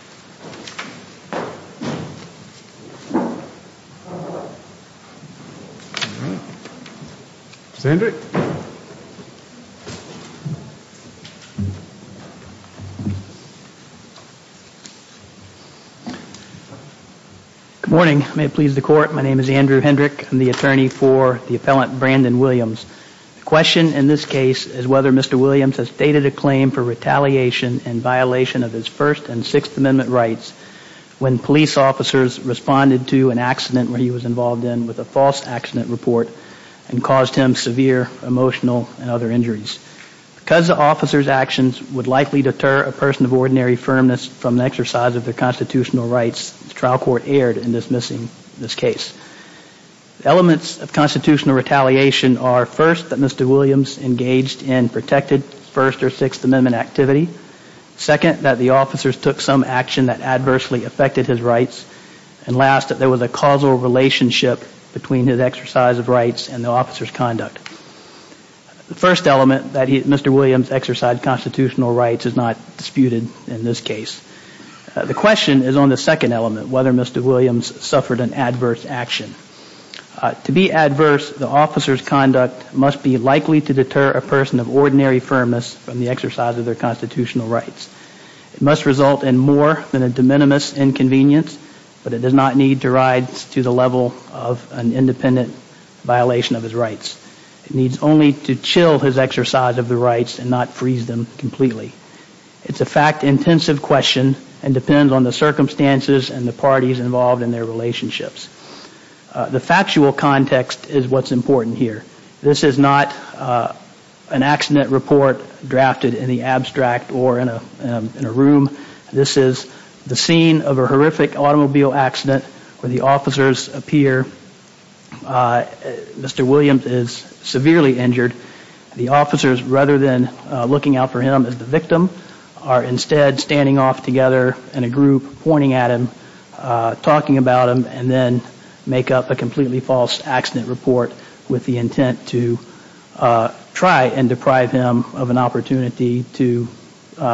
Good morning. May it please the court, my name is Andrew Hendrick. I'm the attorney for the appellant Brandon Williams. The question in this case is whether Mr. Williams has stated a claim for retaliation in violation of his First and Sixth Amendment rights when police officers responded to an accident where he was involved in with a false accident report and caused him severe emotional and other injuries. Because the officer's actions would likely deter a person of ordinary firmness from the exercise of their constitutional rights, the trial court erred in dismissing this case. Elements of constitutional retaliation are first, that Mr. Williams engaged in protected First or Sixth Amendment activity. Second, that the officers took some action that adversely affected his rights. And last, that there was a causal relationship between his exercise of rights and the officer's conduct. The first element, that Mr. Williams exercised constitutional rights, is not disputed in this case. The question is on the second element, whether Mr. Williams suffered an adverse action. To be adverse, the officer's conduct must be likely to deter a person of ordinary firmness from the exercise of their constitutional rights. It must result in more than a de minimis inconvenience, but it does not need to rise to the level of an independent violation of his rights. It needs only to chill his exercise of the rights and not freeze them completely. It's a fact-intensive question and depends on the circumstances and the parties involved in their relationships. The factual context is what's important here. This is not an accident report drafted in the abstract or in a room. This is the scene of a horrific automobile accident where the officers appear. Mr. Williams is severely injured. The officers, rather than looking out for him as the victim, are instead standing off together in a group, pointing at him, talking about him, and then make up a completely false accident report with the intent to try and deprive him of an opportunity to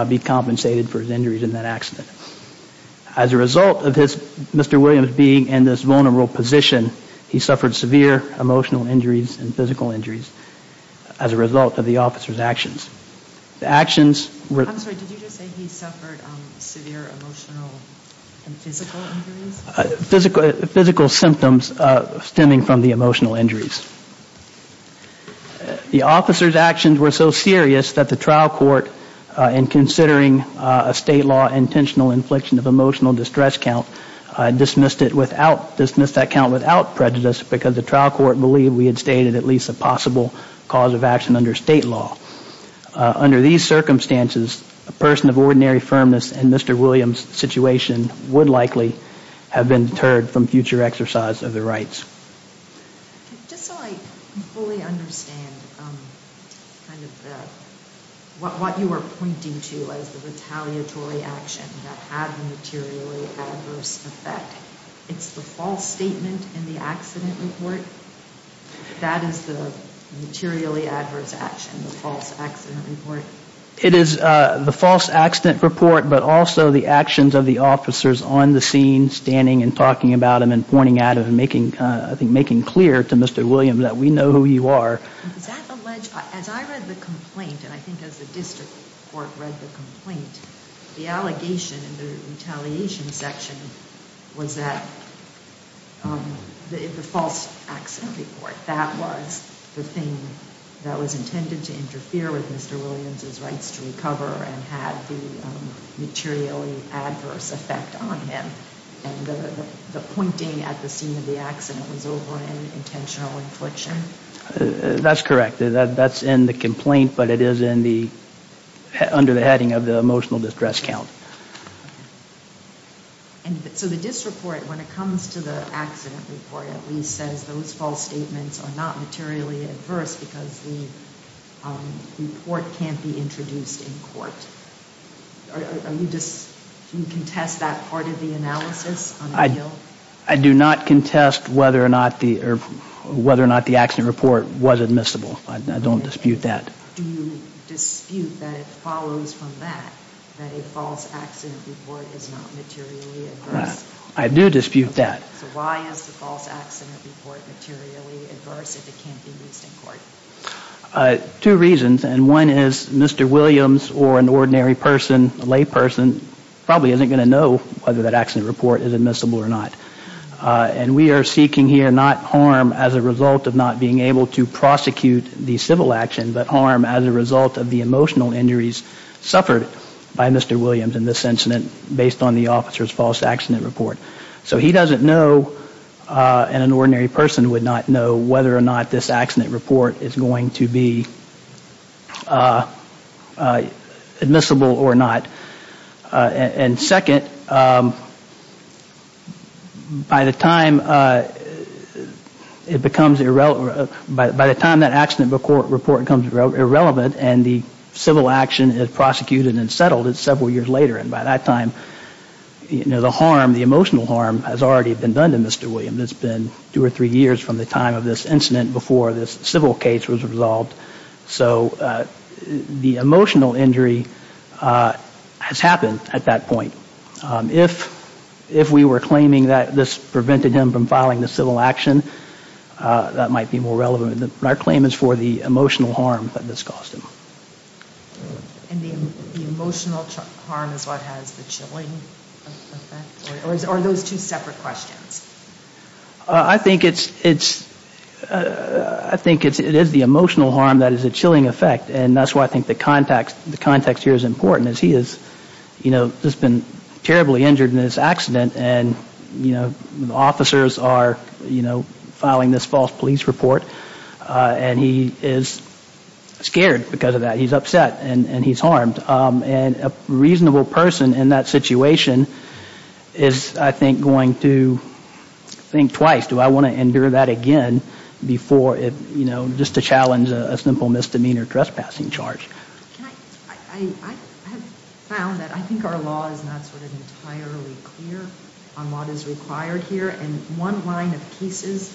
be compensated for his injuries in that accident. As a result of Mr. Williams being in this vulnerable position, he suffered severe emotional injuries and physical injuries as a result of the officer's actions. The officers' actions were so serious that the trial court, in considering a state law intentional infliction of emotional distress count, dismissed that count without prejudice because the trial court believed we had stated at least a possible cause of action under state law. Under these circumstances, a person of ordinary firmness in Mr. Williams' situation would likely have been deterred from future exercise of their rights. Just so I fully understand what you were pointing to as the retaliatory action that had a materially adverse effect, it's the false statement in the accident report? That is the materially adverse action, the false accident report? Yes. It is the false accident report, but also the actions of the officers on the scene, standing and talking about him and pointing at him and making clear to Mr. Williams that we know who you are. Is that alleged? As I read the complaint, and I think as the district court read the complaint, the allegation in the retaliation section was that the false accident report, that was the thing that was supposed to cover and have the materially adverse effect on him. And the pointing at the scene of the accident was over an intentional infliction? That's correct. That's in the complaint, but it is under the heading of the emotional distress count. So the district court, when it comes to the accident report, at least says those false statements are not materially adverse because the report can't be introduced in court. Do you contest that part of the analysis? I do not contest whether or not the accident report was admissible. I don't dispute that. Do you dispute that it follows from that, that a false accident report is not materially adverse? I do dispute that. So why is the false accident report materially adverse if it can't be used in court? Two reasons, and one is Mr. Williams or an ordinary person, a layperson, probably isn't going to know whether that accident report is admissible or not. And we are seeking here not harm as a result of not being able to prosecute the civil action, but harm as a result of the emotional injuries suffered by Mr. Williams in the officer's false accident report. So he doesn't know, and an ordinary person would not know whether or not this accident report is going to be admissible or not. And second, by the time it becomes irrelevant, by the time that accident report becomes irrelevant, and the civil action is prosecuted and settled, it's several years later. And by that time, the emotional harm has already been done to Mr. Williams. It's been two or three years from the time of this incident before this civil case was resolved. So the emotional injury has happened at that point. If we were claiming that this prevented him from filing the civil action, that might be more relevant. But our claim is for the emotional harm that this caused him. And the emotional harm is what has the chilling effect? Or are those two separate questions? I think it's, I think it is the emotional harm that is a chilling effect. And that's why I think the context here is important. As he has, you know, just been terribly injured in this accident, and, you know, officers are, you know, filing this false police report. And he is scared because of that. He's upset. And he's harmed. And a reasonable person in that situation is, I think, going to think twice. Do I want to endure that again before it, you know, just to challenge a simple misdemeanor trespassing charge? I have found that I think our law is not sort of entirely clear on what is required here. And one line of cases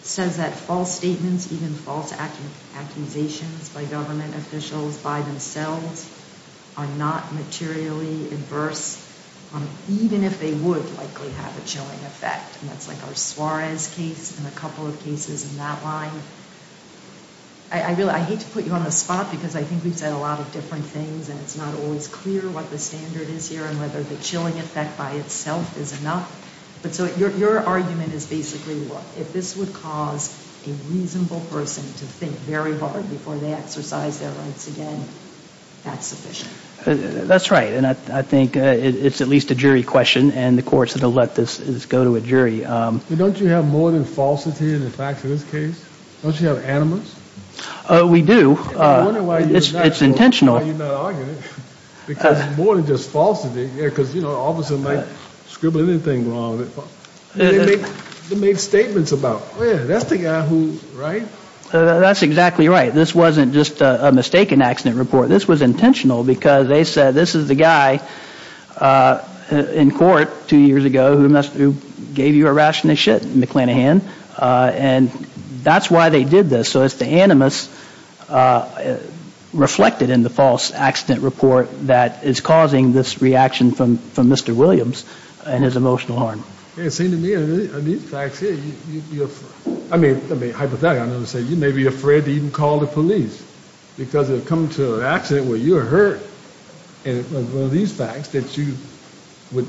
says that false statements, even false accusations by government officials by themselves are not materially adverse, even if they would likely have a chilling effect. And that's like our Suarez case and a couple of cases in that line. I really, I hate to put you on the spot, because I think we've said a lot of different things. And it's not always clear what the standard is here and whether the chilling effect by itself is enough. But so your argument is basically, look, if this would cause a reasonable person to think very hard before they exercise their rights again, that's sufficient. That's right. And I think it's at least a jury question. And the court's going to let this go to a jury. Don't you have more than falsity in the facts in this case? Don't you have animus? We do. It's intentional. More than just falsity, because, you know, an officer might scribble anything wrong. They made statements about, well, that's the guy who, right? That's exactly right. This wasn't just a mistaken accident report. This was intentional because they said this is the guy in court two years ago who gave you a ration of shit, McClanahan. And that's why they did this. So it's the animus reflected in the false accident report that is causing this reaction from Mr. Williams and his emotional harm. It seems to me in these facts here, I mean, hypothetically, you may be afraid to even call the police because you've come to an accident where you were hurt. And it was one of these facts that you would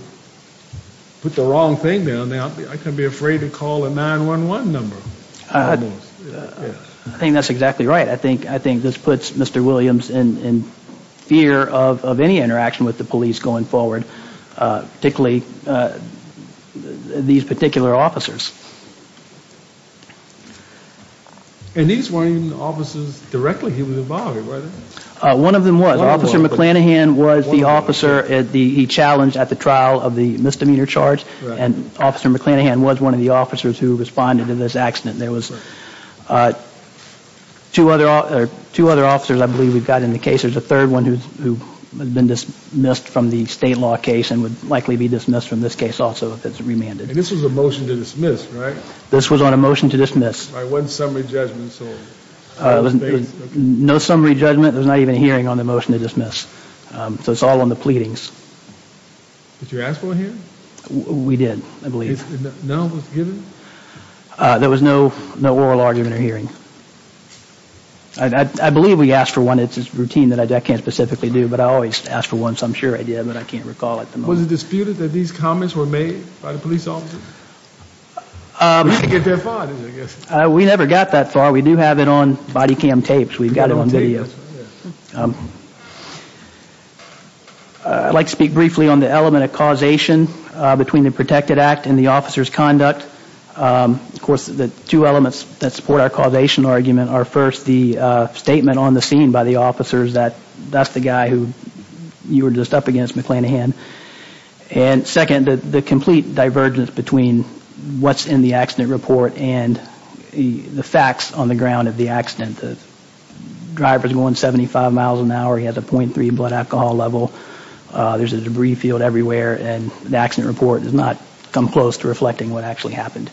put the wrong thing down there. I couldn't be afraid to call a 911 number. I think that's exactly right. I think this puts Mr. Williams in fear of any interaction with the police going forward, particularly these particular officers. And these weren't even officers directly he was involved with, were they? One of them was. Officer McClanahan was the officer he challenged at the trial of the misdemeanor charge. And Officer McClanahan was one of the officers who responded to this accident. There was two other officers I believe we've got in the case. There's a third one who has been dismissed from the state law case and would likely be dismissed from this case also if it's remanded. And this was a motion to dismiss, right? This was on a motion to dismiss. By what summary judgment? No summary judgment. There was not even a hearing on the motion to dismiss. So it's all on the pleadings. Did you ask for a hearing? We did, I believe. And no one was given? There was no oral argument or hearing. I believe we asked for one. It's a routine that I can't specifically do, but I always ask for one. So I'm sure I did, but I can't recall at the moment. Was it disputed that these comments were made by the police officer? We didn't get that far, did we? We never got that far. We do have it on body cam tapes. We've got it on video. I'd like to speak briefly on the element of causation between the protected act and the officer's conduct. Of course, the two elements that support our causation argument are, first, the statement on the scene by the officers that that's the guy who you were just up against, McClanahan. And, second, the complete divergence between what's in the accident report and the facts on the ground of the accident. The driver's going 75 miles an hour. He has a .3 blood alcohol level. There's a debris field everywhere, and the accident report does not come close to reflecting what actually happened.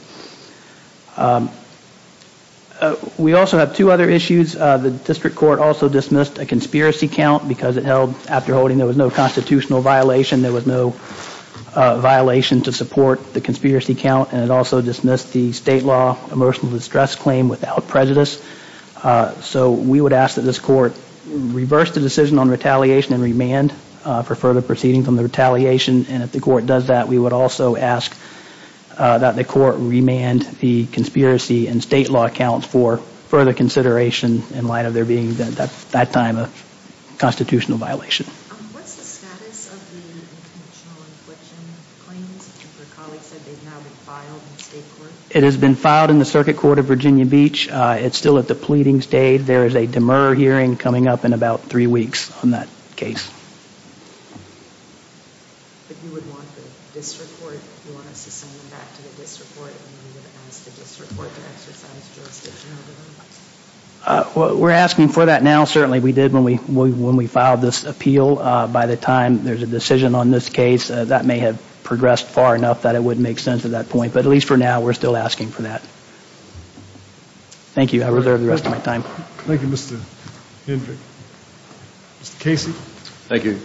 We also have two other issues. The district court also dismissed a conspiracy count because it held, after holding, there was no constitutional violation, there was no violation to support the conspiracy count, and it also dismissed the state law emotional distress claim without prejudice. So we would ask that this court reverse the decision on retaliation and remand for further proceeding from the retaliation, and if the court does that, we would also ask that the court remand the conspiracy and state law accounts for further consideration in light of there being, at that time, a constitutional violation. It has been filed in the circuit court of Virginia Beach. It's still at the pleading stage. There is a demur hearing coming up in about three weeks on that case. We're asking for that now. Certainly we did when we filed this appeal. By the time there's a decision on this case, that may have progressed far enough that it wouldn't make sense at that point, but at least for now, we're still asking for that. Thank you. I reserve the rest of my time. Thank you, Mr. Hendrick. Mr. Casey. Thank you.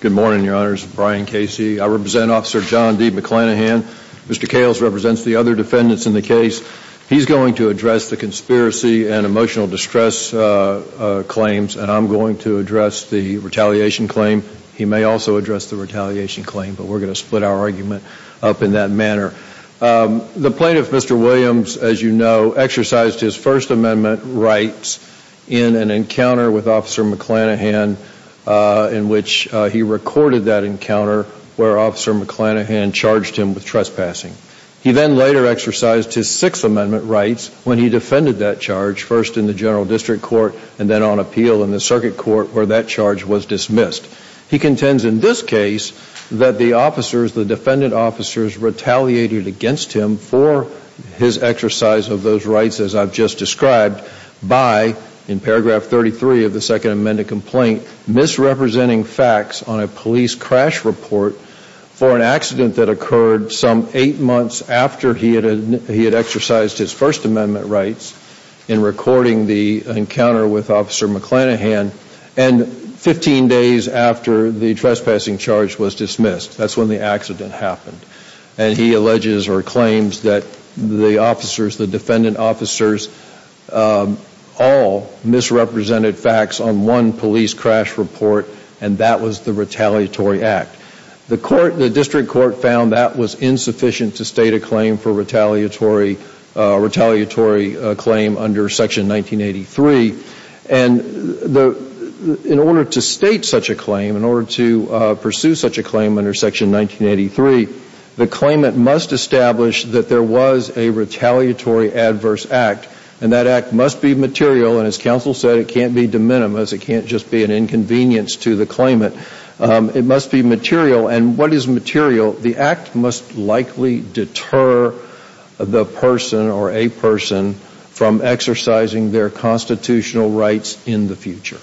Good morning, Your Honors. Brian Casey. I represent Officer John D. McClanahan. Mr. Kales represents the other defendants in the case. He's going to address the conspiracy and emotional distress claims, and I'm going to address the retaliation claim. He may also address the retaliation claim, but we're going to split our argument up in that manner. The plaintiff, Mr. Williams, as you know, exercised his First Amendment rights in an encounter with Officer McClanahan in which he recorded that encounter where Officer McClanahan charged him with trespassing. He then later exercised his Sixth Amendment rights when he defended that charge, first in the general district court and then on appeal in the circuit court where that charge was dismissed. He contends in this case that the officers, the defendant officers, retaliated against him for his exercise of those rights, as I've just described, by, in paragraph 33 of the Second Amendment complaint, misrepresenting facts on a police crash report for an accident that occurred some eight months after he had exercised his First Amendment rights in recording the encounter with Officer McClanahan and 15 days after the trespassing charge was dismissed. That's when the accident happened. And he alleges or claims that the officers, the defendant officers, all misrepresented facts on one police crash report, and that was the retaliatory act. The district court found that was insufficient to state a claim for retaliatory claim under Section 1983. And in order to state such a claim, in order to pursue such a claim under Section 1983, the claimant must establish that there was a retaliatory adverse act. And that act must be material. And as counsel said, it can't be de minimis. It can't just be an inconvenience to the claimant. It must be material. And what is material? The act must likely deter the person or a person from exercising their constitutional rights in the future.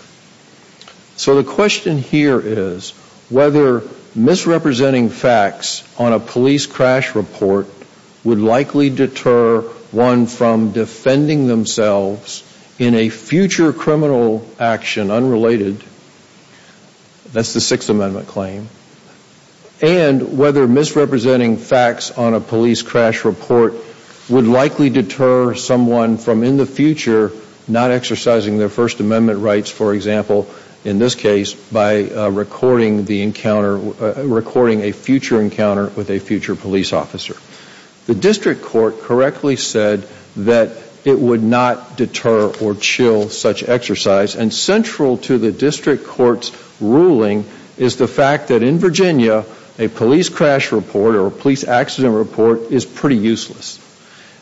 So the question here is whether misrepresenting facts on a police crash report would likely deter one from defending themselves in a future criminal action unrelated. That's the Sixth Amendment claim. And whether misrepresenting facts on a police crash report would likely deter someone from in the future not exercising their First Amendment rights, for example, in this case, by recording a future encounter with a future police officer. The district court correctly said that it would not deter or chill such exercise. And central to the district court's ruling is the fact that in Virginia, a police crash report or a police accident report is pretty useless.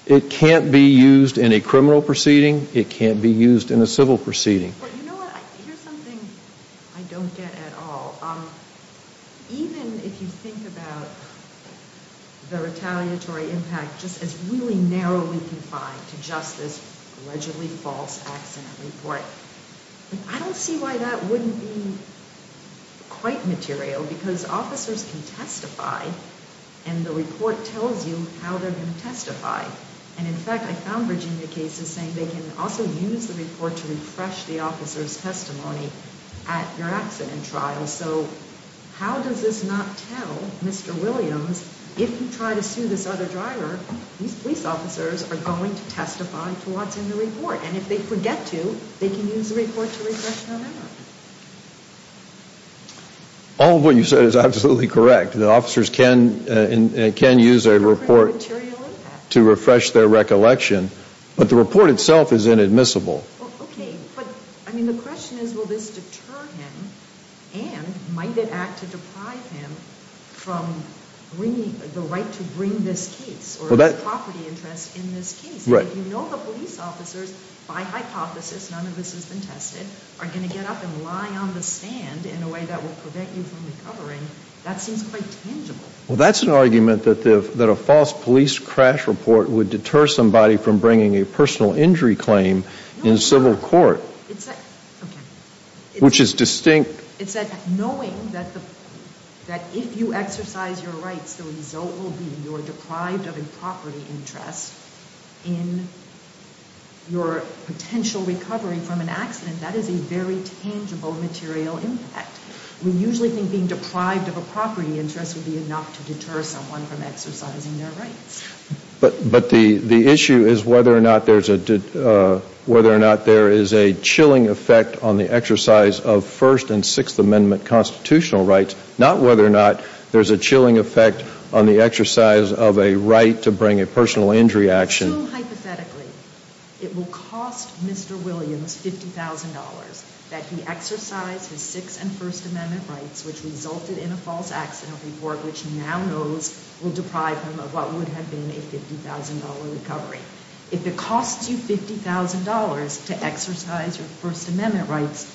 It can't be used in a criminal proceeding. It can't be used in a civil proceeding. But you know what? Here's something I don't get at all. Even if you think about the retaliatory impact just as really narrowly confined to just this allegedly false accident report, I don't see why that wouldn't be quite material because officers can testify and the report tells you how they're going to testify. And in fact, I found Virginia cases saying they can also use the report to refresh the officer's testimony at your accident trial. So how does this not tell Mr. Williams, if you try to sue this other driver, these police officers are going to testify to what's in the report. And if they forget to, they can use the report to refresh their memory. All of what you said is absolutely correct. The officers can use their report to refresh their recollection. But the report itself is inadmissible. Okay. But, I mean, the question is will this deter him and might it act to deprive him from the right to bring this case or a property interest in this case? Right. If you know the police officers, by hypothesis, none of this has been tested, are going to get up and lie on the stand in a way that will prevent you from recovering, that seems quite tangible. Well, that's an argument that a false police crash report would deter somebody from bringing a personal injury claim in civil court, which is distinct. It's that knowing that if you exercise your rights, the result will be you're deprived of a property interest in your potential recovery from an accident. That is a very tangible material impact. We usually think being deprived of a property interest would be enough to deter someone from exercising their rights. But the issue is whether or not there is a chilling effect on the exercise of First and Sixth Amendment constitutional rights, not whether or not there's a chilling effect on the exercise of a right to bring a personal injury action. So, hypothetically, it will cost Mr. Williams $50,000 that he exercise his Sixth and First Amendment rights, which resulted in a false accident report, which now knows will deprive him of what would have been a $50,000 recovery. If it costs you $50,000 to exercise your First Amendment rights,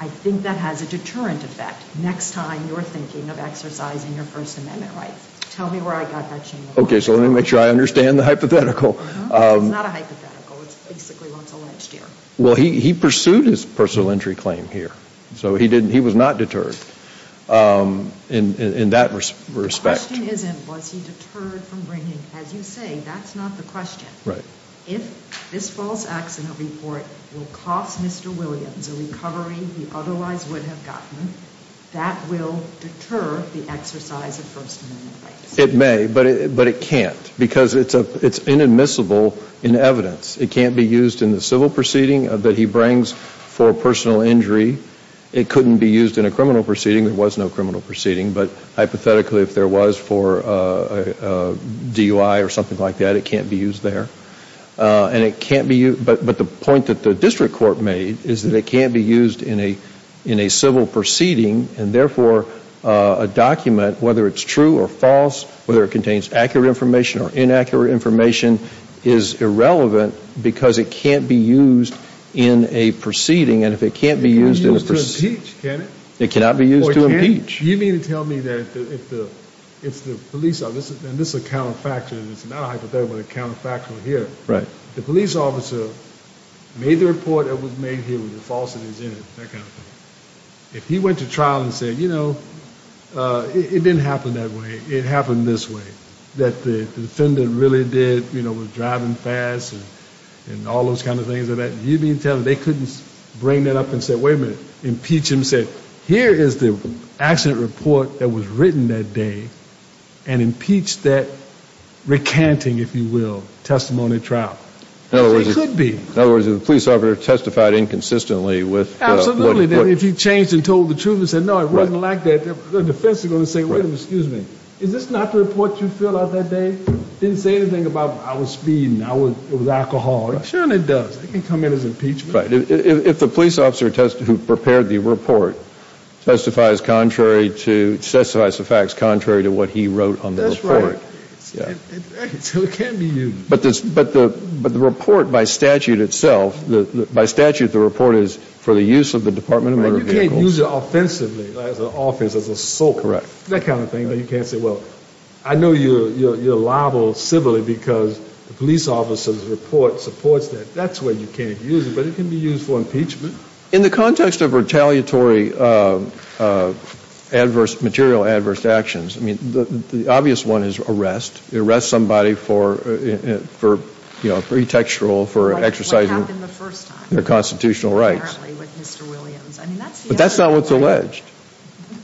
I think that has a deterrent effect next time you're thinking of exercising your First Amendment rights. Tell me where I got that change. Okay, so let me make sure I understand the hypothetical. It's not a hypothetical. It's basically what's alleged here. Well, he pursued his personal injury claim here. So he was not deterred. In that respect. The question isn't was he deterred from bringing. As you say, that's not the question. Right. If this false accident report will cost Mr. Williams a recovery he otherwise would have gotten, that will deter the exercise of First Amendment rights. It may, but it can't because it's inadmissible in evidence. It can't be used in the civil proceeding that he brings for a personal injury. It couldn't be used in a criminal proceeding. There was no criminal proceeding. But hypothetically, if there was for a DUI or something like that, it can't be used there. And it can't be used. But the point that the district court made is that it can't be used in a civil proceeding. And therefore, a document, whether it's true or false, whether it contains accurate information or inaccurate information, is irrelevant because it can't be used in a proceeding. It can't be used to impeach, can it? It cannot be used to impeach. You mean to tell me that if the police officer, and this is a counterfactual, it's not a hypothetical, but a counterfactual here. Right. The police officer made the report that was made here with the falsities in it, that kind of thing. If he went to trial and said, you know, it didn't happen that way, it happened this way, that the defendant really did, you know, was driving fast and all those kind of things like that, you mean to tell me they couldn't bring that up and say, wait a minute, impeach him and say, here is the accident report that was written that day and impeach that recanting, if you will, testimony at trial. It could be. In other words, if the police officer testified inconsistently with what he put. Then if he changed and told the truth and said, no, it wasn't like that, the defense is going to say, wait a minute, excuse me, is this not the report you filled out that day? It didn't say anything about I was speeding, it was alcohol. Sure it does. It can come in as impeachment. If the police officer who prepared the report testifies contrary to, testifies to facts contrary to what he wrote on the report. That's right. So it can be used. But the report by statute itself, by statute, the report is for the use of the Department of Motor Vehicles. You can't use it offensively, as an offense, as an assault. Correct. That kind of thing. You can't say, well, I know you're liable civilly because the police officer's report supports that. That's where you can't use it. But it can be used for impeachment. In the context of retaliatory adverse, material adverse actions, I mean, the obvious one is arrest. Arrest somebody for, you know, pretextual, for exercising. What happened the first time. Their constitutional rights. Apparently with Mr. Williams. But that's not what's alleged.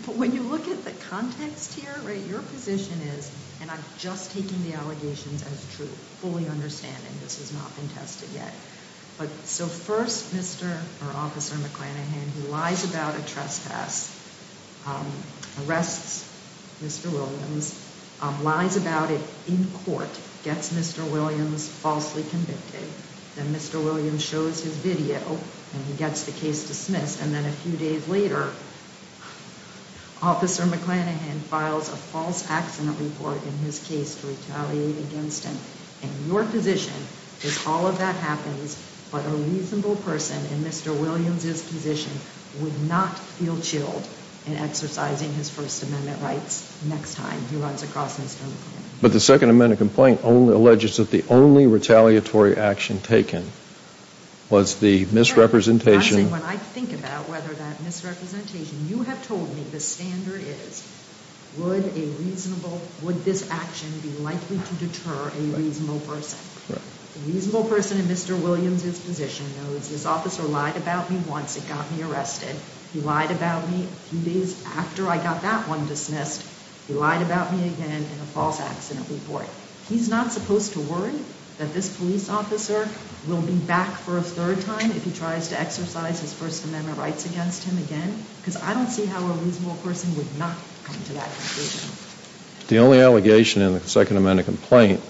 But when you look at the context here, right, your position is, And I'm just taking the allegations as true. Fully understanding this has not been tested yet. But so first, Mr. or Officer McClanahan, who lies about a trespass, arrests Mr. Williams, lies about it in court, gets Mr. Williams falsely convicted. Then Mr. Williams shows his video and he gets the case dismissed. And then a few days later, Officer McClanahan files a false accident report in his case to retaliate against him. And your position is all of that happens, but a reasonable person in Mr. Williams's position would not feel chilled in exercising his First Amendment rights next time he runs across Mr. McClanahan. But the Second Amendment complaint only alleges that the only retaliatory action taken was the misrepresentation. When I think about whether that misrepresentation, you have told me the standard is, would a reasonable, would this action be likely to deter a reasonable person? A reasonable person in Mr. Williams's position knows this officer lied about me once, it got me arrested. He lied about me a few days after I got that one dismissed. He lied about me again in a false accident report. He's not supposed to worry that this police officer will be back for a third time if he tries to exercise his First Amendment rights against him again, because I don't see how a reasonable person would not come to that conclusion. The only allegation in the Second Amendment complaint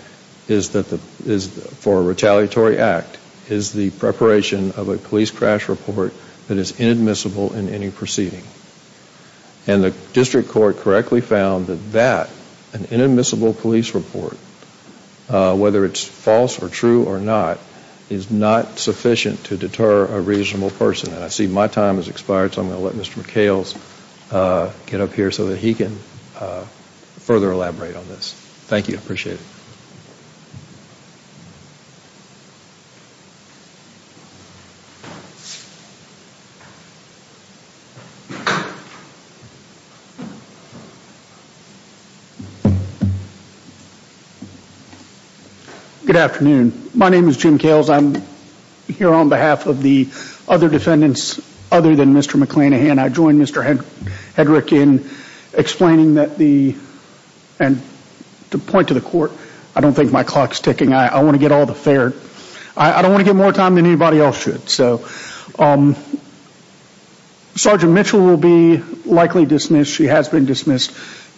is that, for a retaliatory act, is the preparation of a police crash report that is inadmissible in any proceeding. And the district court correctly found that that, an inadmissible police report, whether it's false or true or not, is not sufficient to deter a reasonable person. And I see my time has expired, so I'm going to let Mr. McHale get up here so that he can further elaborate on this. Thank you, I appreciate it. Good afternoon. My name is Jim Kales. I'm here on behalf of the other defendants other than Mr. McClain. And I join Mr. Hedrick in explaining that the, and to point to the court, I don't think my clock's ticking. I want to get all the fair, I don't want to get more time than anybody else should. So Sergeant Mitchell will be likely dismissed. She has been dismissed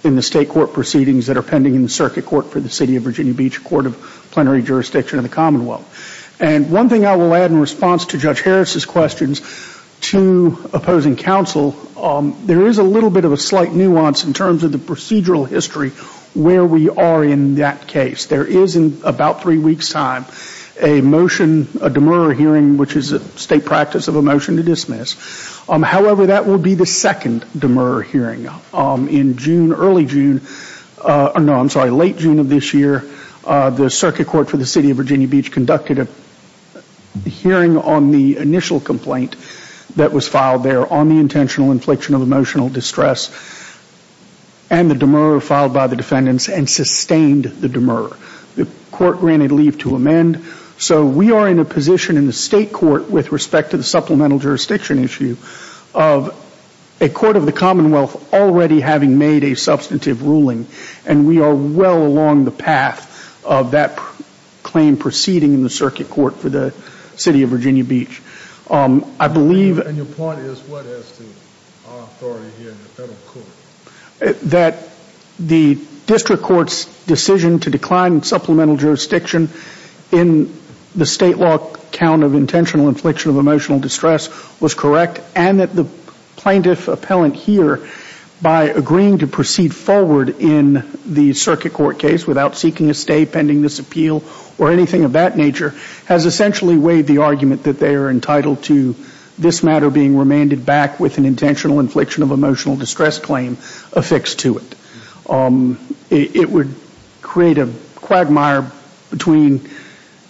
in the state court proceedings that are pending in the circuit court for the City of Virginia Beach, Court of Plenary Jurisdiction of the Commonwealth. And one thing I will add in response to Judge Harris's questions to opposing counsel, there is a little bit of a slight nuance in terms of the procedural history where we are in that case. There is, in about three weeks' time, a motion, a demur hearing, which is a state practice of a motion to dismiss. However, that will be the second demur hearing in June, early June, or no, I'm sorry, late June of this year. The circuit court for the City of Virginia Beach conducted a hearing on the initial complaint that was filed there on the intentional infliction of emotional distress and the demur filed by the defendants and sustained the demur. The court granted leave to amend. So we are in a position in the state court with respect to the supplemental jurisdiction issue of a court of the Commonwealth already having made a substantive ruling and we are well along the path of that claim proceeding in the circuit court for the City of Virginia Beach. I believe... And your point is what has the authority here in the federal court? That the district court's decision to decline supplemental jurisdiction in the state law count of intentional infliction of emotional distress was correct and that the plaintiff appellant here, by agreeing to proceed forward in the circuit court case without seeking a stay pending this appeal or anything of that nature, has essentially weighed the argument that they are entitled to this matter being remanded back with an intentional infliction of emotional distress claim affixed to it. It would create a quagmire between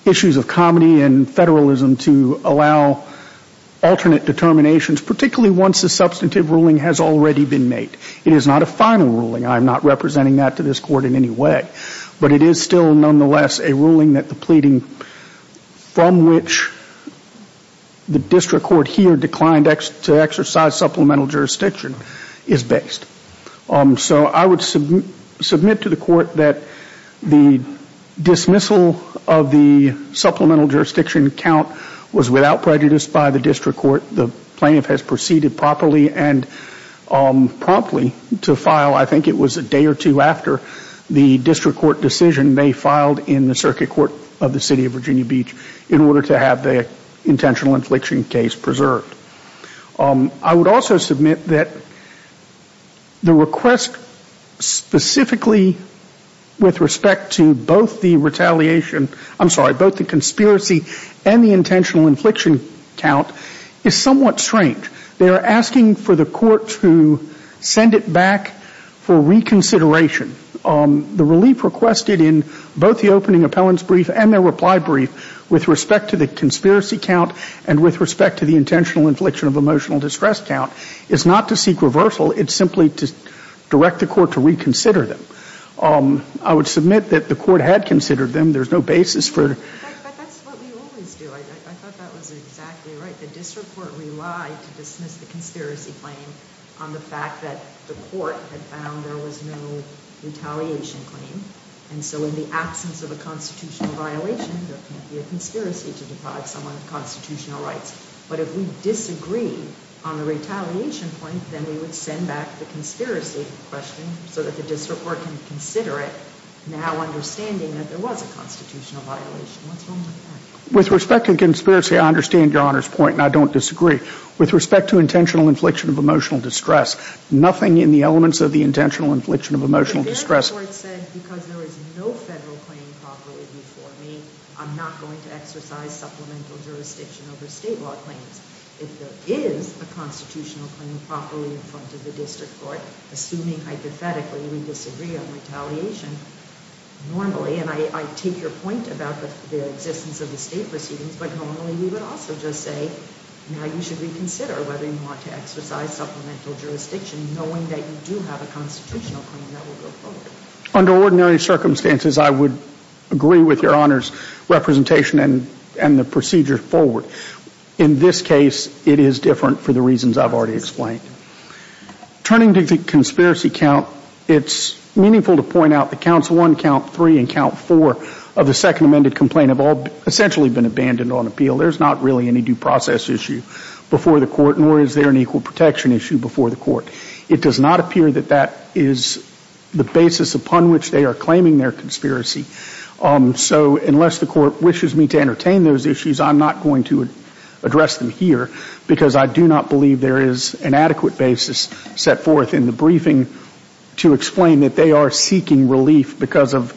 issues of comedy and federalism to allow alternate determinations, particularly once the substantive ruling has already been made. It is not a final ruling. I am not representing that to this court in any way. But it is still, nonetheless, a ruling that the pleading from which the district court here declined to exercise supplemental jurisdiction is based. So I would submit to the court that the dismissal of the supplemental jurisdiction count was without prejudice by the district court. The plaintiff has proceeded properly and promptly to file, I think it was a day or two after, the district court decision they filed in the circuit court of the City of Virginia Beach in order to have the intentional infliction case preserved. I would also submit that the request specifically with respect to both the retaliation, I'm sorry, both the conspiracy and the intentional infliction count is somewhat strange. They are asking for the court to send it back for reconsideration. The relief requested in both the opening appellant's brief and their reply brief with respect to the conspiracy count and with respect to the intentional infliction of emotional distress count is not to seek reversal. It's simply to direct the court to reconsider them. I would submit that the court had considered them. There's no basis for it. But that's what we always do. I thought that was exactly right. The district court relied to dismiss the conspiracy claim on the fact that the court had found there was no retaliation claim. And so in the absence of a constitutional violation, there can't be a conspiracy to deprive someone of constitutional rights. But if we disagree on the retaliation point, then we would send back the conspiracy question so that the district court can consider it now understanding that there was a constitutional violation. What's wrong with that? With respect to conspiracy, I understand Your Honor's point and I don't disagree. With respect to intentional infliction of emotional distress, nothing in the elements of the intentional infliction of emotional distress The district court said because there is no federal claim properly before me, I'm not going to exercise supplemental jurisdiction over state law claims. If there is a constitutional claim properly in front of the district court, assuming hypothetically we disagree on retaliation, normally, and I take your point about the existence of the state proceedings, but normally we would also just say, now you should reconsider whether you want to exercise supplemental jurisdiction knowing that you do have a constitutional claim that will go forward. Under ordinary circumstances, I would agree with Your Honor's representation and the procedure forward. In this case, it is different for the reasons I've already explained. Turning to the conspiracy count, it's meaningful to point out that counts one, count three, and count four of the second amended complaint have all essentially been abandoned on appeal. There's not really any due process issue before the court, nor is there an equal protection issue before the court. It does not appear that that is the basis upon which they are claiming their conspiracy. So unless the court wishes me to entertain those issues, I'm not going to address them here because I do not believe there is an adequate basis set forth in the briefing to explain that they are seeking relief because of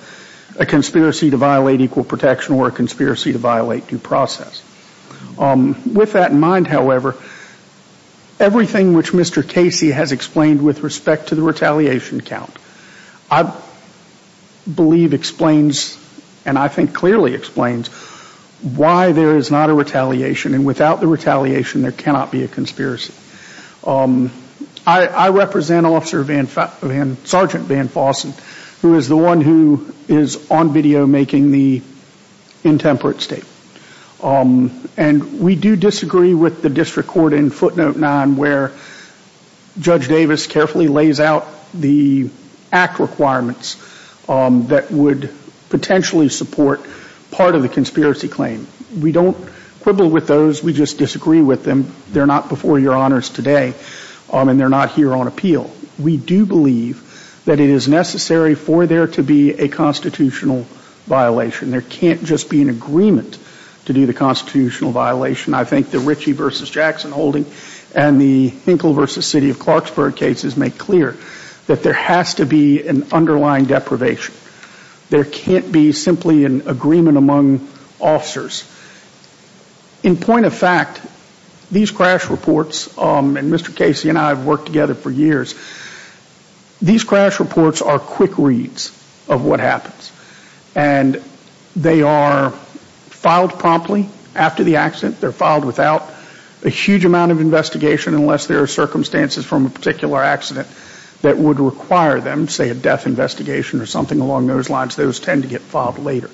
a conspiracy to violate equal protection or a conspiracy to violate due process. With that in mind, however, everything which Mr. Casey has explained with respect to the retaliation count, I believe explains, and I think clearly explains, why there is not a retaliation. And without the retaliation, there cannot be a conspiracy. I represent Officer Sergeant Van Fossen, who is the one who is on video making the intemperate statement. And we do disagree with the district court in footnote nine where Judge Davis carefully lays out the act requirements that would potentially support part of the conspiracy claim. We don't quibble with those. We just disagree with them. They're not before your honors today, and they're not here on appeal. We do believe that it is necessary for there to be a constitutional violation. There can't just be an agreement to do the constitutional violation. I think the Ritchie v. Jackson holding and the Hinkle v. City of Clarksburg cases make clear that there has to be an underlying deprivation. There can't be simply an agreement among officers. In point of fact, these crash reports, and Mr. Casey and I have worked together for years, these crash reports are quick reads of what happens. And they are filed promptly after the accident. They're filed without a huge amount of investigation unless there are circumstances from a particular accident that would require them, say, a death investigation or something along those lines. Those tend to get filed later.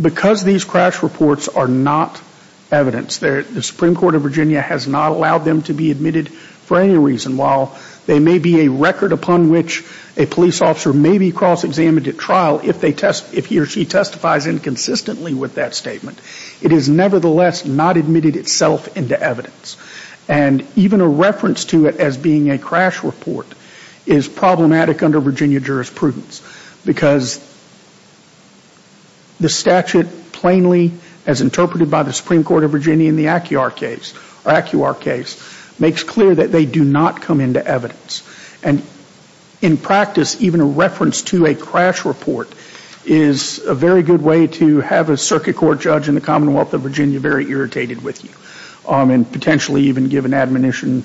Because these crash reports are not evidence, the Supreme Court of Virginia has not allowed them to be admitted for any reason. While they may be a record upon which a police officer may be cross-examined at trial if he or she testifies inconsistently with that statement, it is nevertheless not admitted itself into evidence. And even a reference to it as being a crash report is problematic under Virginia jurisprudence because the statute plainly, as interpreted by the Supreme Court of Virginia in the ACIAR case, makes clear that they do not come into evidence. And in practice, even a reference to a crash report is a very good way to have a circuit court judge in the Commonwealth of Virginia very irritated with you and potentially even give an admonition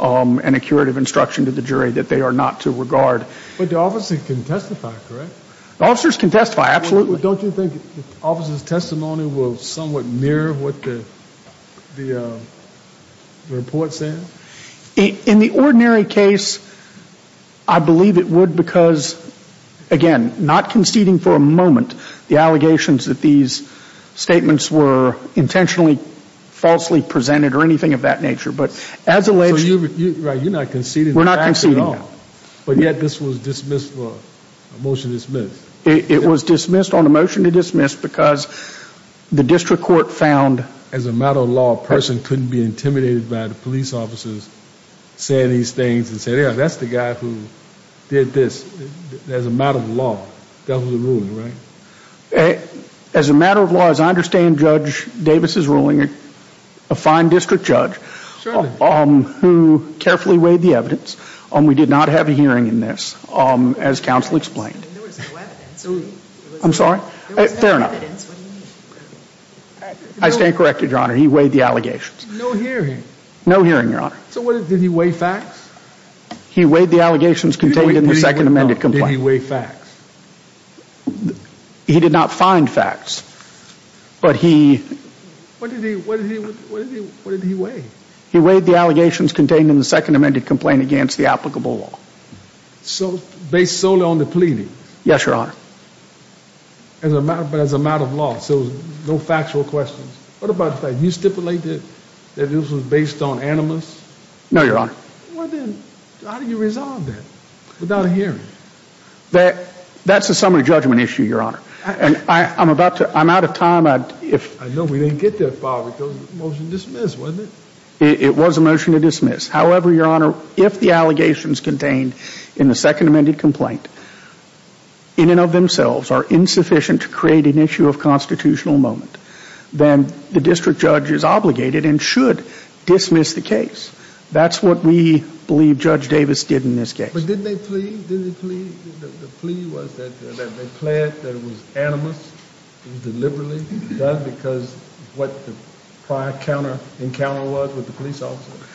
and a curative instruction to the jury that they are not to regard. But the officers can testify, correct? The officers can testify, absolutely. Don't you think officers' testimony will somewhat mirror what the report says? In the ordinary case, I believe it would because, again, not conceding for a moment the allegations that these statements were intentionally falsely presented or anything of that nature. But as alleged... So you're right. You're not conceding the facts at all. We're not conceding them. But yet this was dismissed for a motion to dismiss. It was dismissed on a motion to dismiss because the district court found... As a matter of law, a person couldn't be intimidated by the police officers saying these things and saying, Yeah, that's the guy who did this as a matter of law. That was the ruling, right? As a matter of law, as I understand Judge Davis' ruling, a fine district judge who carefully weighed the evidence. We did not have a hearing in this, as counsel explained. There was no evidence. I'm sorry? There was no evidence. What do you mean? I stand corrected, Your Honor. He weighed the allegations. No hearing. No hearing, Your Honor. So did he weigh facts? He weighed the allegations contained in the second amended complaint. Did he weigh facts? He did not find facts, but he... What did he weigh? He weighed the allegations contained in the second amended complaint against the applicable law. Based solely on the pleading? Yes, Your Honor. But as a matter of law, so no factual questions. What about the fact that you stipulated that this was based on animus? No, Your Honor. Well, then how do you resolve that without a hearing? That's a summary judgment issue, Your Honor. And I'm about to... I'm out of time. I know we didn't get that far with the motion to dismiss, wasn't it? It was a motion to dismiss. However, Your Honor, if the allegations contained in the second amended complaint in and of themselves are insufficient to create an issue of constitutional moment, then the district judge is obligated and should dismiss the case. That's what we believe Judge Davis did in this case. But didn't they plead? Didn't they plead? The plea was that they pled that it was animus. It was deliberately done because of what the prior encounter was with the police officer.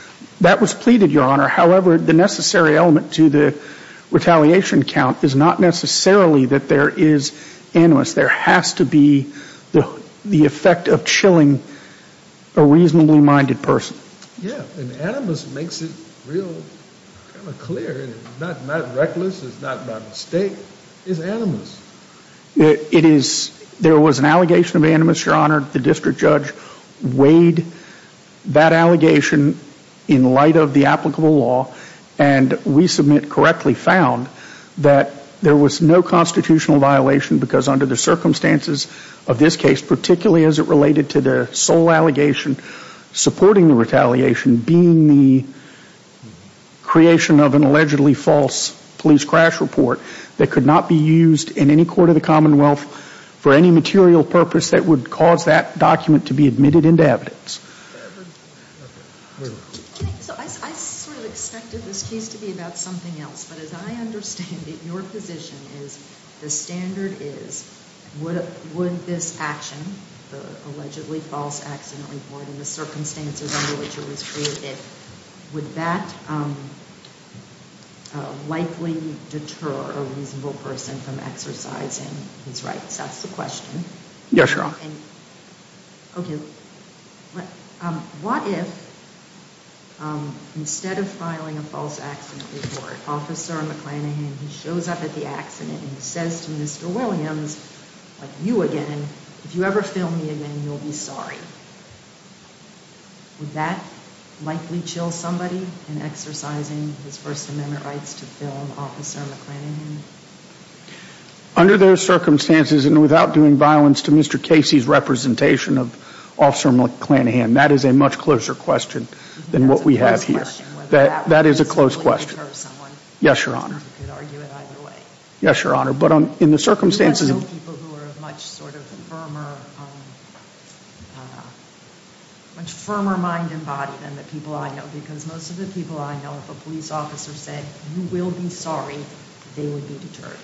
That was pleaded, Your Honor. However, the necessary element to the retaliation count is not necessarily that there is animus. There has to be the effect of chilling a reasonably minded person. Yeah, and animus makes it real kind of clear. It's not reckless. It's not by mistake. It's animus. It is. There was an allegation of animus, Your Honor. The district judge weighed that allegation in light of the applicable law. And we submit correctly found that there was no constitutional violation because under the circumstances of this case, particularly as it related to the sole allegation supporting the retaliation, being the creation of an allegedly false police crash report that could not be used in any court of the Commonwealth for any material purpose that would cause that document to be admitted into evidence. I sort of expected this case to be about something else. But as I understand it, your position is the standard is would this action, the allegedly false accident report, in the circumstances under which it was created, would that likely deter a reasonable person from exercising his rights? That's the question. Yes, Your Honor. Okay. What if instead of filing a false accident report, Officer McClanahan shows up at the accident and says to Mr. Williams, like you again, if you ever film me again, you'll be sorry. Would that likely chill somebody in exercising his First Amendment rights to film Officer McClanahan? Under those circumstances and without doing violence to Mr. Casey's representation of Officer McClanahan, that is a much closer question than what we have here. That is a close question. Yes, Your Honor. Yes, Your Honor. But in the circumstances... much firmer mind and body than the people I know. Because most of the people I know, if a police officer said, you will be sorry, they would be deterred.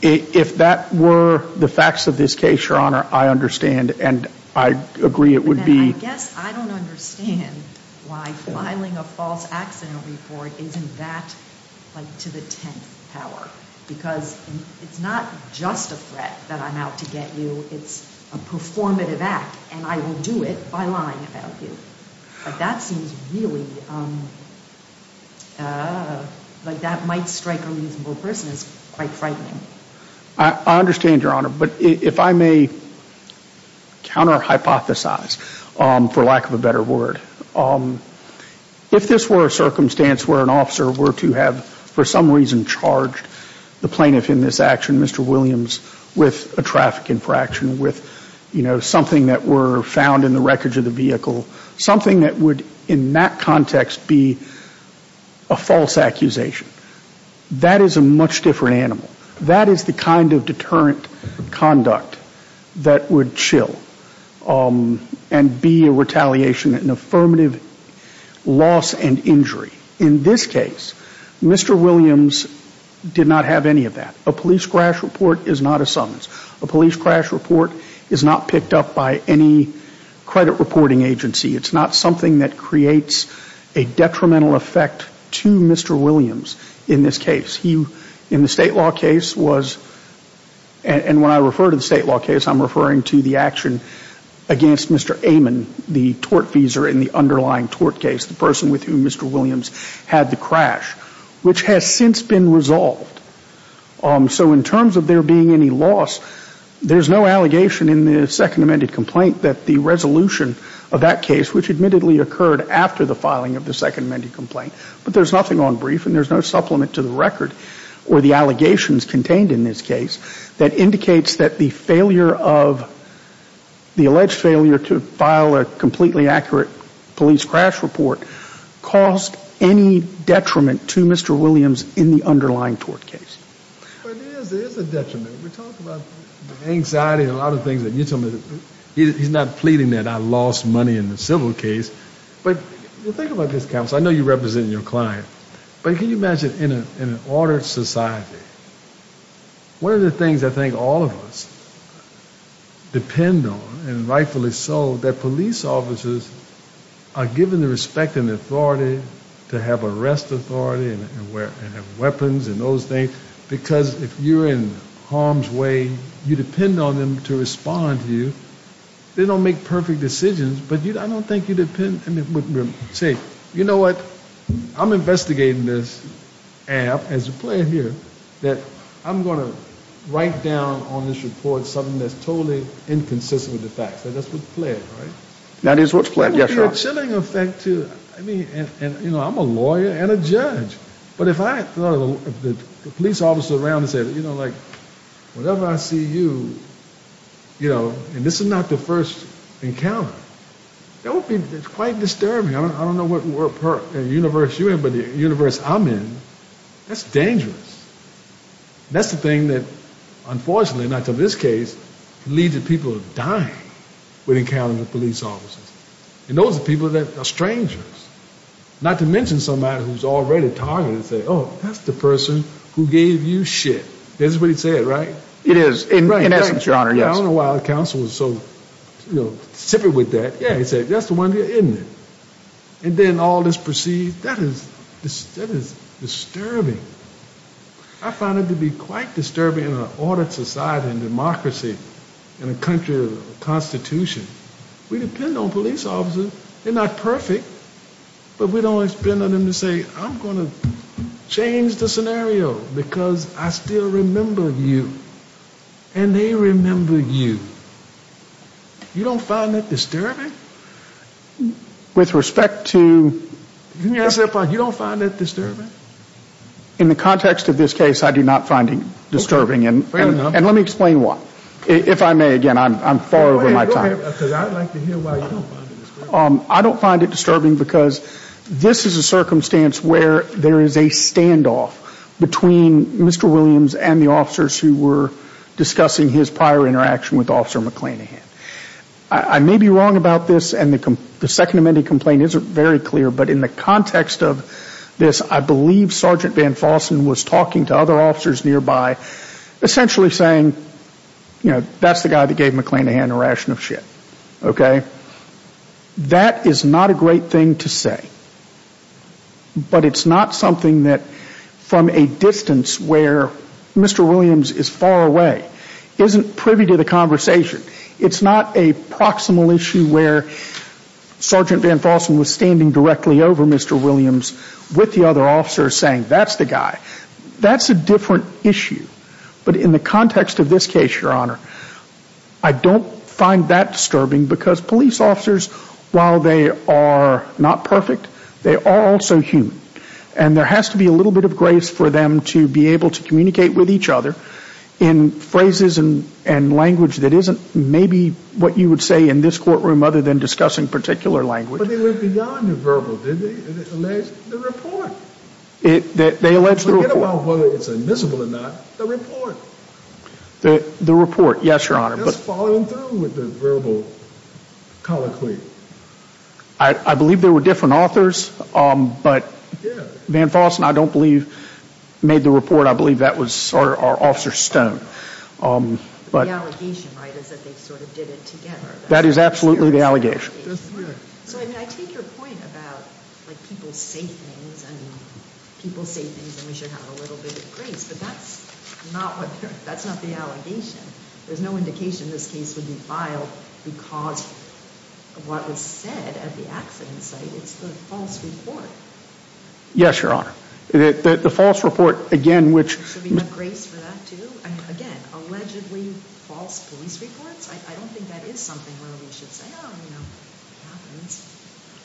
If that were the facts of this case, Your Honor, I understand. And I agree it would be... I guess I don't understand why filing a false accident report isn't that, like, to the 10th power. Because it's not just a threat that I'm out to get you. It's a performative act, and I will do it by lying about you. But that seems really... like that might strike a reasonable person as quite frightening. I understand, Your Honor. But if I may counter-hypothesize, for lack of a better word. If this were a circumstance where an officer were to have, for some reason, charged the plaintiff in this action, Mr. Williams, with a traffic infraction, with, you know, something that were found in the wreckage of the vehicle, something that would, in that context, be a false accusation, that is a much different animal. That is the kind of deterrent conduct that would chill and be a retaliation, an affirmative loss and injury. In this case, Mr. Williams did not have any of that. A police crash report is not a summons. A police crash report is not picked up by any credit reporting agency. It's not something that creates a detrimental effect to Mr. Williams in this case. He, in the state law case, was... and when I refer to the state law case, I'm referring to the action against Mr. Amon, the tortfeasor in the underlying tort case, the person with whom Mr. Williams had the crash, which has since been resolved. So in terms of there being any loss, there's no allegation in the second amended complaint that the resolution of that case, which admittedly occurred after the filing of the second amended complaint, but there's nothing on brief and there's no supplement to the record or the allegations contained in this case, that indicates that the failure of... police crash report caused any detriment to Mr. Williams in the underlying tort case. But it is a detriment. We talked about anxiety and a lot of things that you told me. He's not pleading that I lost money in the civil case, but think about this, counsel. I know you're representing your client, but can you imagine in an ordered society, one of the things I think all of us depend on and rightfully so, that police officers are given the respect and the authority to have arrest authority and have weapons and those things, because if you're in harm's way, you depend on them to respond to you. They don't make perfect decisions, but I don't think you depend... Say, you know what? I'm investigating this, and as a player here, that I'm going to write down on this report something that's totally inconsistent with the facts. That's what's planned, right? That is what's planned, yes, sir. It will be a chilling effect to... I mean, and you know, I'm a lawyer and a judge, but if I... if the police officer around me said, you know, like, whenever I see you, you know, and this is not the first encounter, that would be quite disturbing. I don't know what universe you're in, but the universe I'm in, that's dangerous. That's the thing that, unfortunately, not to this case, leads to people dying when encountering the police officers. And those are people that are strangers, not to mention somebody who's already targeted, and say, oh, that's the person who gave you shit. That's what he said, right? It is, in essence, Your Honor, yes. I don't know why the counsel was so, you know, stupid with that. Yeah, he said, that's the one, isn't it? And then all this proceeds... That is disturbing. I find it to be quite disturbing in an ordered society and democracy in a country of constitution. We depend on police officers. They're not perfect, but we don't spend on them to say, I'm going to change the scenario because I still remember you, and they remember you. You don't find that disturbing? With respect to... Yes, Your Honor. You don't find that disturbing? In the context of this case, I do not find it disturbing. Fair enough. And let me explain why. If I may, again, I'm far over my time. Because I'd like to hear why you don't find it disturbing. I don't find it disturbing because this is a circumstance where there is a standoff between Mr. Williams and the officers who were discussing his prior interaction with Officer McClanehan. I may be wrong about this, and the Second Amendment complaint isn't very clear, but in the context of this, I believe Sergeant Van Fossen was talking to other officers nearby, essentially saying, you know, that's the guy that gave McClanehan a ration of shit. Okay? That is not a great thing to say, but it's not something that, from a distance where Mr. Williams is far away, isn't privy to the conversation. It's not a proximal issue where Sergeant Van Fossen was standing directly over Mr. Williams with the other officers saying, that's the guy. That's a different issue. But in the context of this case, Your Honor, I don't find that disturbing because police officers, while they are not perfect, they are also human. And there has to be a little bit of grace for them to be able to communicate with each other in phrases and language that isn't maybe what you would say in this courtroom other than discussing particular language. But they went beyond the verbal, didn't they? They alleged the report. They alleged the report. Forget about whether it's admissible or not, the report. The report. Yes, Your Honor. Just following through with the verbal colloquy. I believe there were different authors, but Van Fossen, I don't believe, made the report. I believe that was Officer Stone. The allegation, right, is that they sort of did it together. That is absolutely the allegation. So, I mean, I take your point about like people say things, people say things and we should have a little bit of grace, but that's not that's not the allegation. There's no indication this case would be filed because of what was said at the accident site. It's the false report. Yes, Your Honor. The false report, again, Should we have grace for that too? Again, allegedly false police reports? I don't think that is something where we should say, oh, you know, it happens.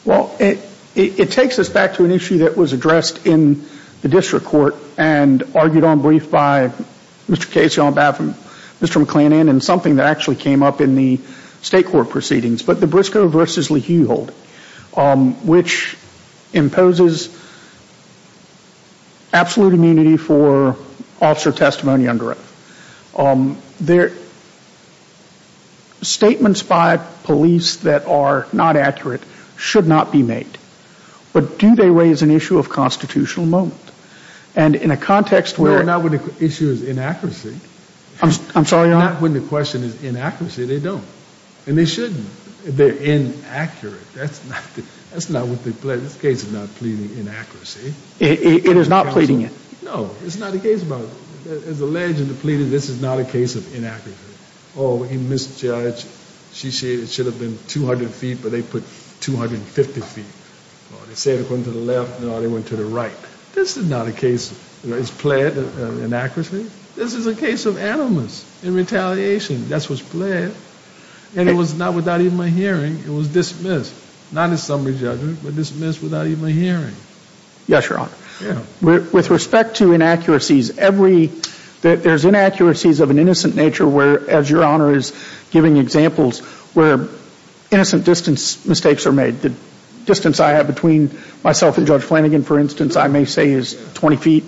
Well, it it takes us back to an issue that was addressed in the district court and argued on brief by Mr. Casey on behalf of Mr. McClannan and something that actually came up in the state court proceedings, but the Briscoe v. Leheuhold which imposes absolute immunity for officer testimony under oath. Statements by police that are not accurate should not be made. But do they raise an issue of constitutional moment? And in a context where No, not when the issue is inaccuracy. I'm sorry, Your Honor? Not when the question is inaccuracy. They don't. And they shouldn't. They're inaccurate. That's not that's not what they pleaded. This case is not pleading inaccuracy. It is not pleading it. No, it's not a case about there's a legend that pleaded this is not a case of inaccuracy. Oh, he misjudged. It should have been 200 feet, but they put 250 feet. Oh, they said according to the left. No, they went to the right. This is not a case that is pled inaccuracy. This is a case of animus and retaliation. That's what's pled. And it was not without even a hearing. It was dismissed. Not in summary judgment, but dismissed without even hearing. Yes, Your Honor. Yeah. With respect to inaccuracies, every there's inaccuracies of an innocent nature where as Your Honor is giving examples where innocent distance mistakes are made. The distance I have between myself and Judge Flanagan, for instance, I may say is 20 feet.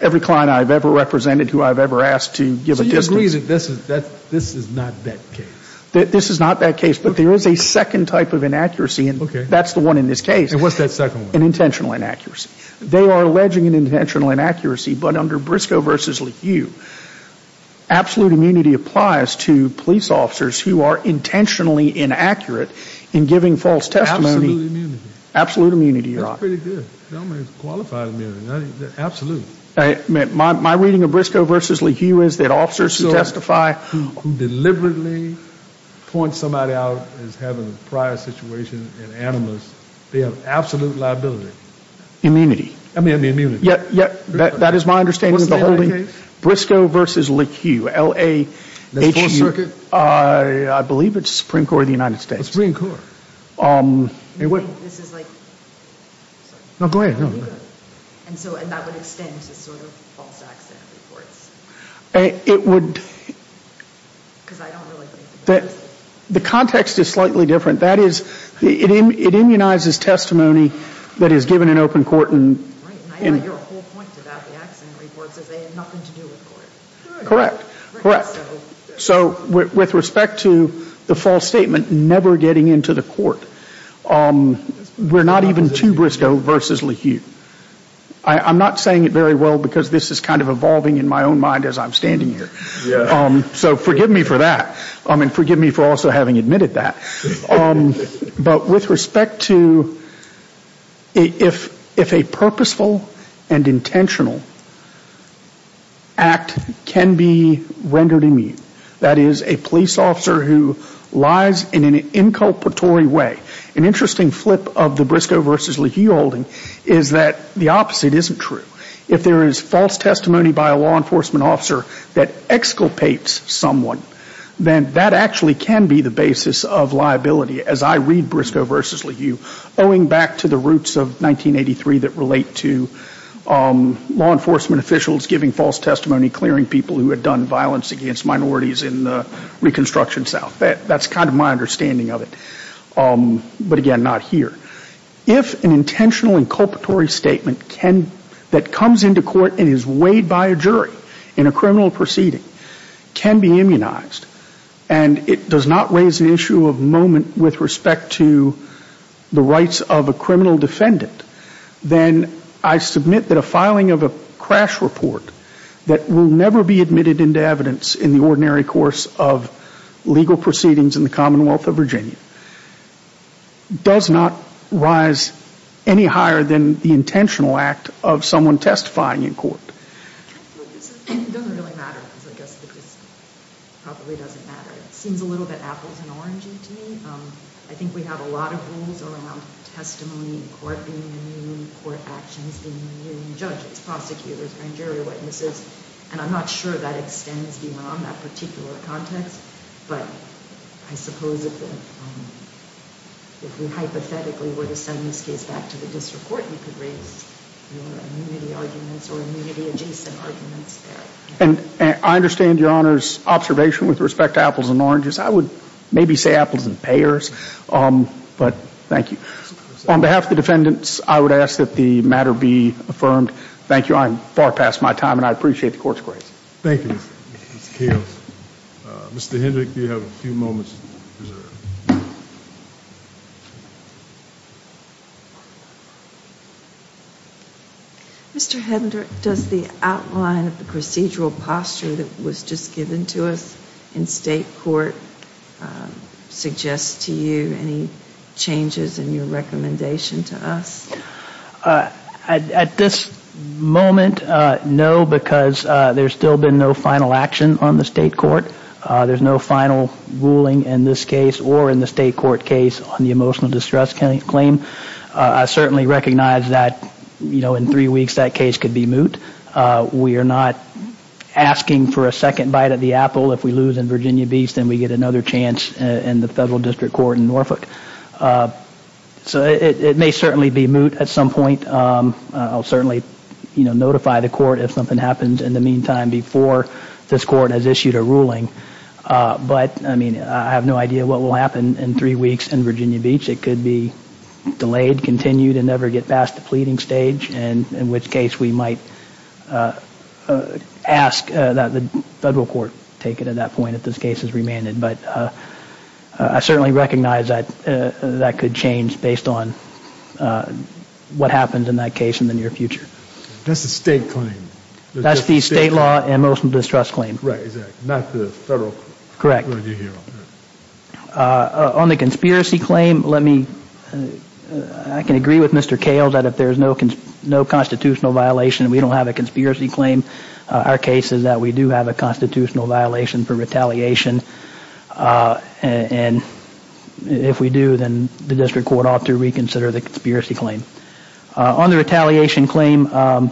Every client I've ever represented who I've ever asked to give a distance. So you agree that this is not that case? This is not that case, but there is a second type of inaccuracy and that's the one in this case. And what's that second one? An intentional inaccuracy. They are alleging an intentional inaccuracy, but under Briscoe v. Lequeu, absolute immunity applies to police officers who are intentionally inaccurate in giving false testimony. Absolute immunity. Your Honor. That's pretty good. Qualified immunity. Absolute. My reading of Briscoe v. Lequeu is that officers who who deliberately point somebody out as having a prior situation and animus, they have absolute liability. Immunity. I mean immunity. That is my understanding. What's the other case? Briscoe v. Lequeu, L-A-H-U. I believe it's the Supreme Court of the United States. The Supreme Court. This is like No, go ahead. And so that would extend to sort of false accident reports. It would Because I don't really think The context is slightly different. That is it immunizes testimony that is given in open court. Right. Your whole point about the accident reports is they have nothing to do with court. Correct. Correct. So with respect to the false statement never getting into the court, we're not even to Briscoe v. Lequeu. I'm not saying it very well because this is kind of evolving in my own mind as I'm standing here. So forgive me for that. And forgive me for also having admitted that. But with respect to if a purposeful and intentional act can be rendered immune, that is a police officer who lies in an inculpatory way. An interesting flip of the Briscoe v. Lequeu holding is that the opposite isn't true. If there is false testimony by a law enforcement officer that exculpates someone, then that actually can be the basis of as I read Briscoe v. Lequeu owing back to the construction south. That's kind of my understanding of it. But again, not here. If an intentional inculpatory statement that comes into court and is weighed by a jury in a proceeding can be immunized and it does not raise an issue of moment with respect to the rights of a person to in court. It really matter because I guess it probably doesn't matter. It seems a little bit apples and oranges to me. I think we have a lot of rules around testimony in court being immune, court actions being immune, judges, prosecutors, jury witnesses, and I'm not sure that extends beyond that particular context, but I suppose if we hypothetically were to send this case back to the district court, you could raise immunity arguments or immunity adjacent arguments there. I understand Your Honor's observation with respect to apples and oranges. I would maybe say apples and pears, but thank you. appreciate the court's grace. Thank you. Mr. Hendrick, do you have a few moments? Mr. Hendrick, does the outline of the procedural posture that was just given to us in state court suggest to you any changes in your recommendation to us? At this moment, no, because there has still been no final action on the state court. There is no final ruling in this case or in the state court case on the distress claim. I certainly recognize that in three weeks that case could be We are not asking for a second bite at the If we lose in Virginia Beach, we get another chance in the federal district court in It may certainly be moot at some point. certainly notify the court if something happens in the meantime before this court has issued a decision. that the federal court take it at that point if this case is remanded. I certainly recognize that could change based on what happens in that case in the near future. That is the state claim? That is the state law and motion distress claim. Correct. On the conspiracy claim, I can agree with Mr. Kales that if there is no constitutional violation and we don't have a conspiracy claim, our case is that we have a constitutional violation for retaliation. If we do, the district court ought to reconsider the conspiracy claim. On the retaliation claim, Mr.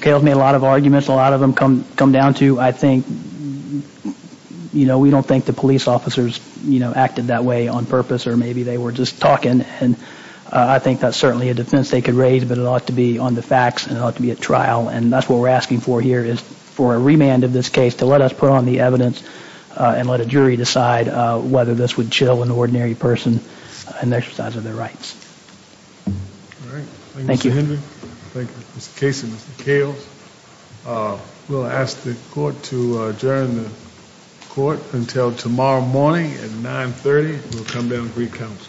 Kales made a lot of arguments. A lot of them come down to I think we don't think the police officers acted that way on purpose or maybe they were just talking. I think that is a defense they could raise but it ought to be on the facts and it be a That is what we are Thank you. We will ask the court to adjourn the court until tomorrow morning at 930. We will come down and reconvene. We will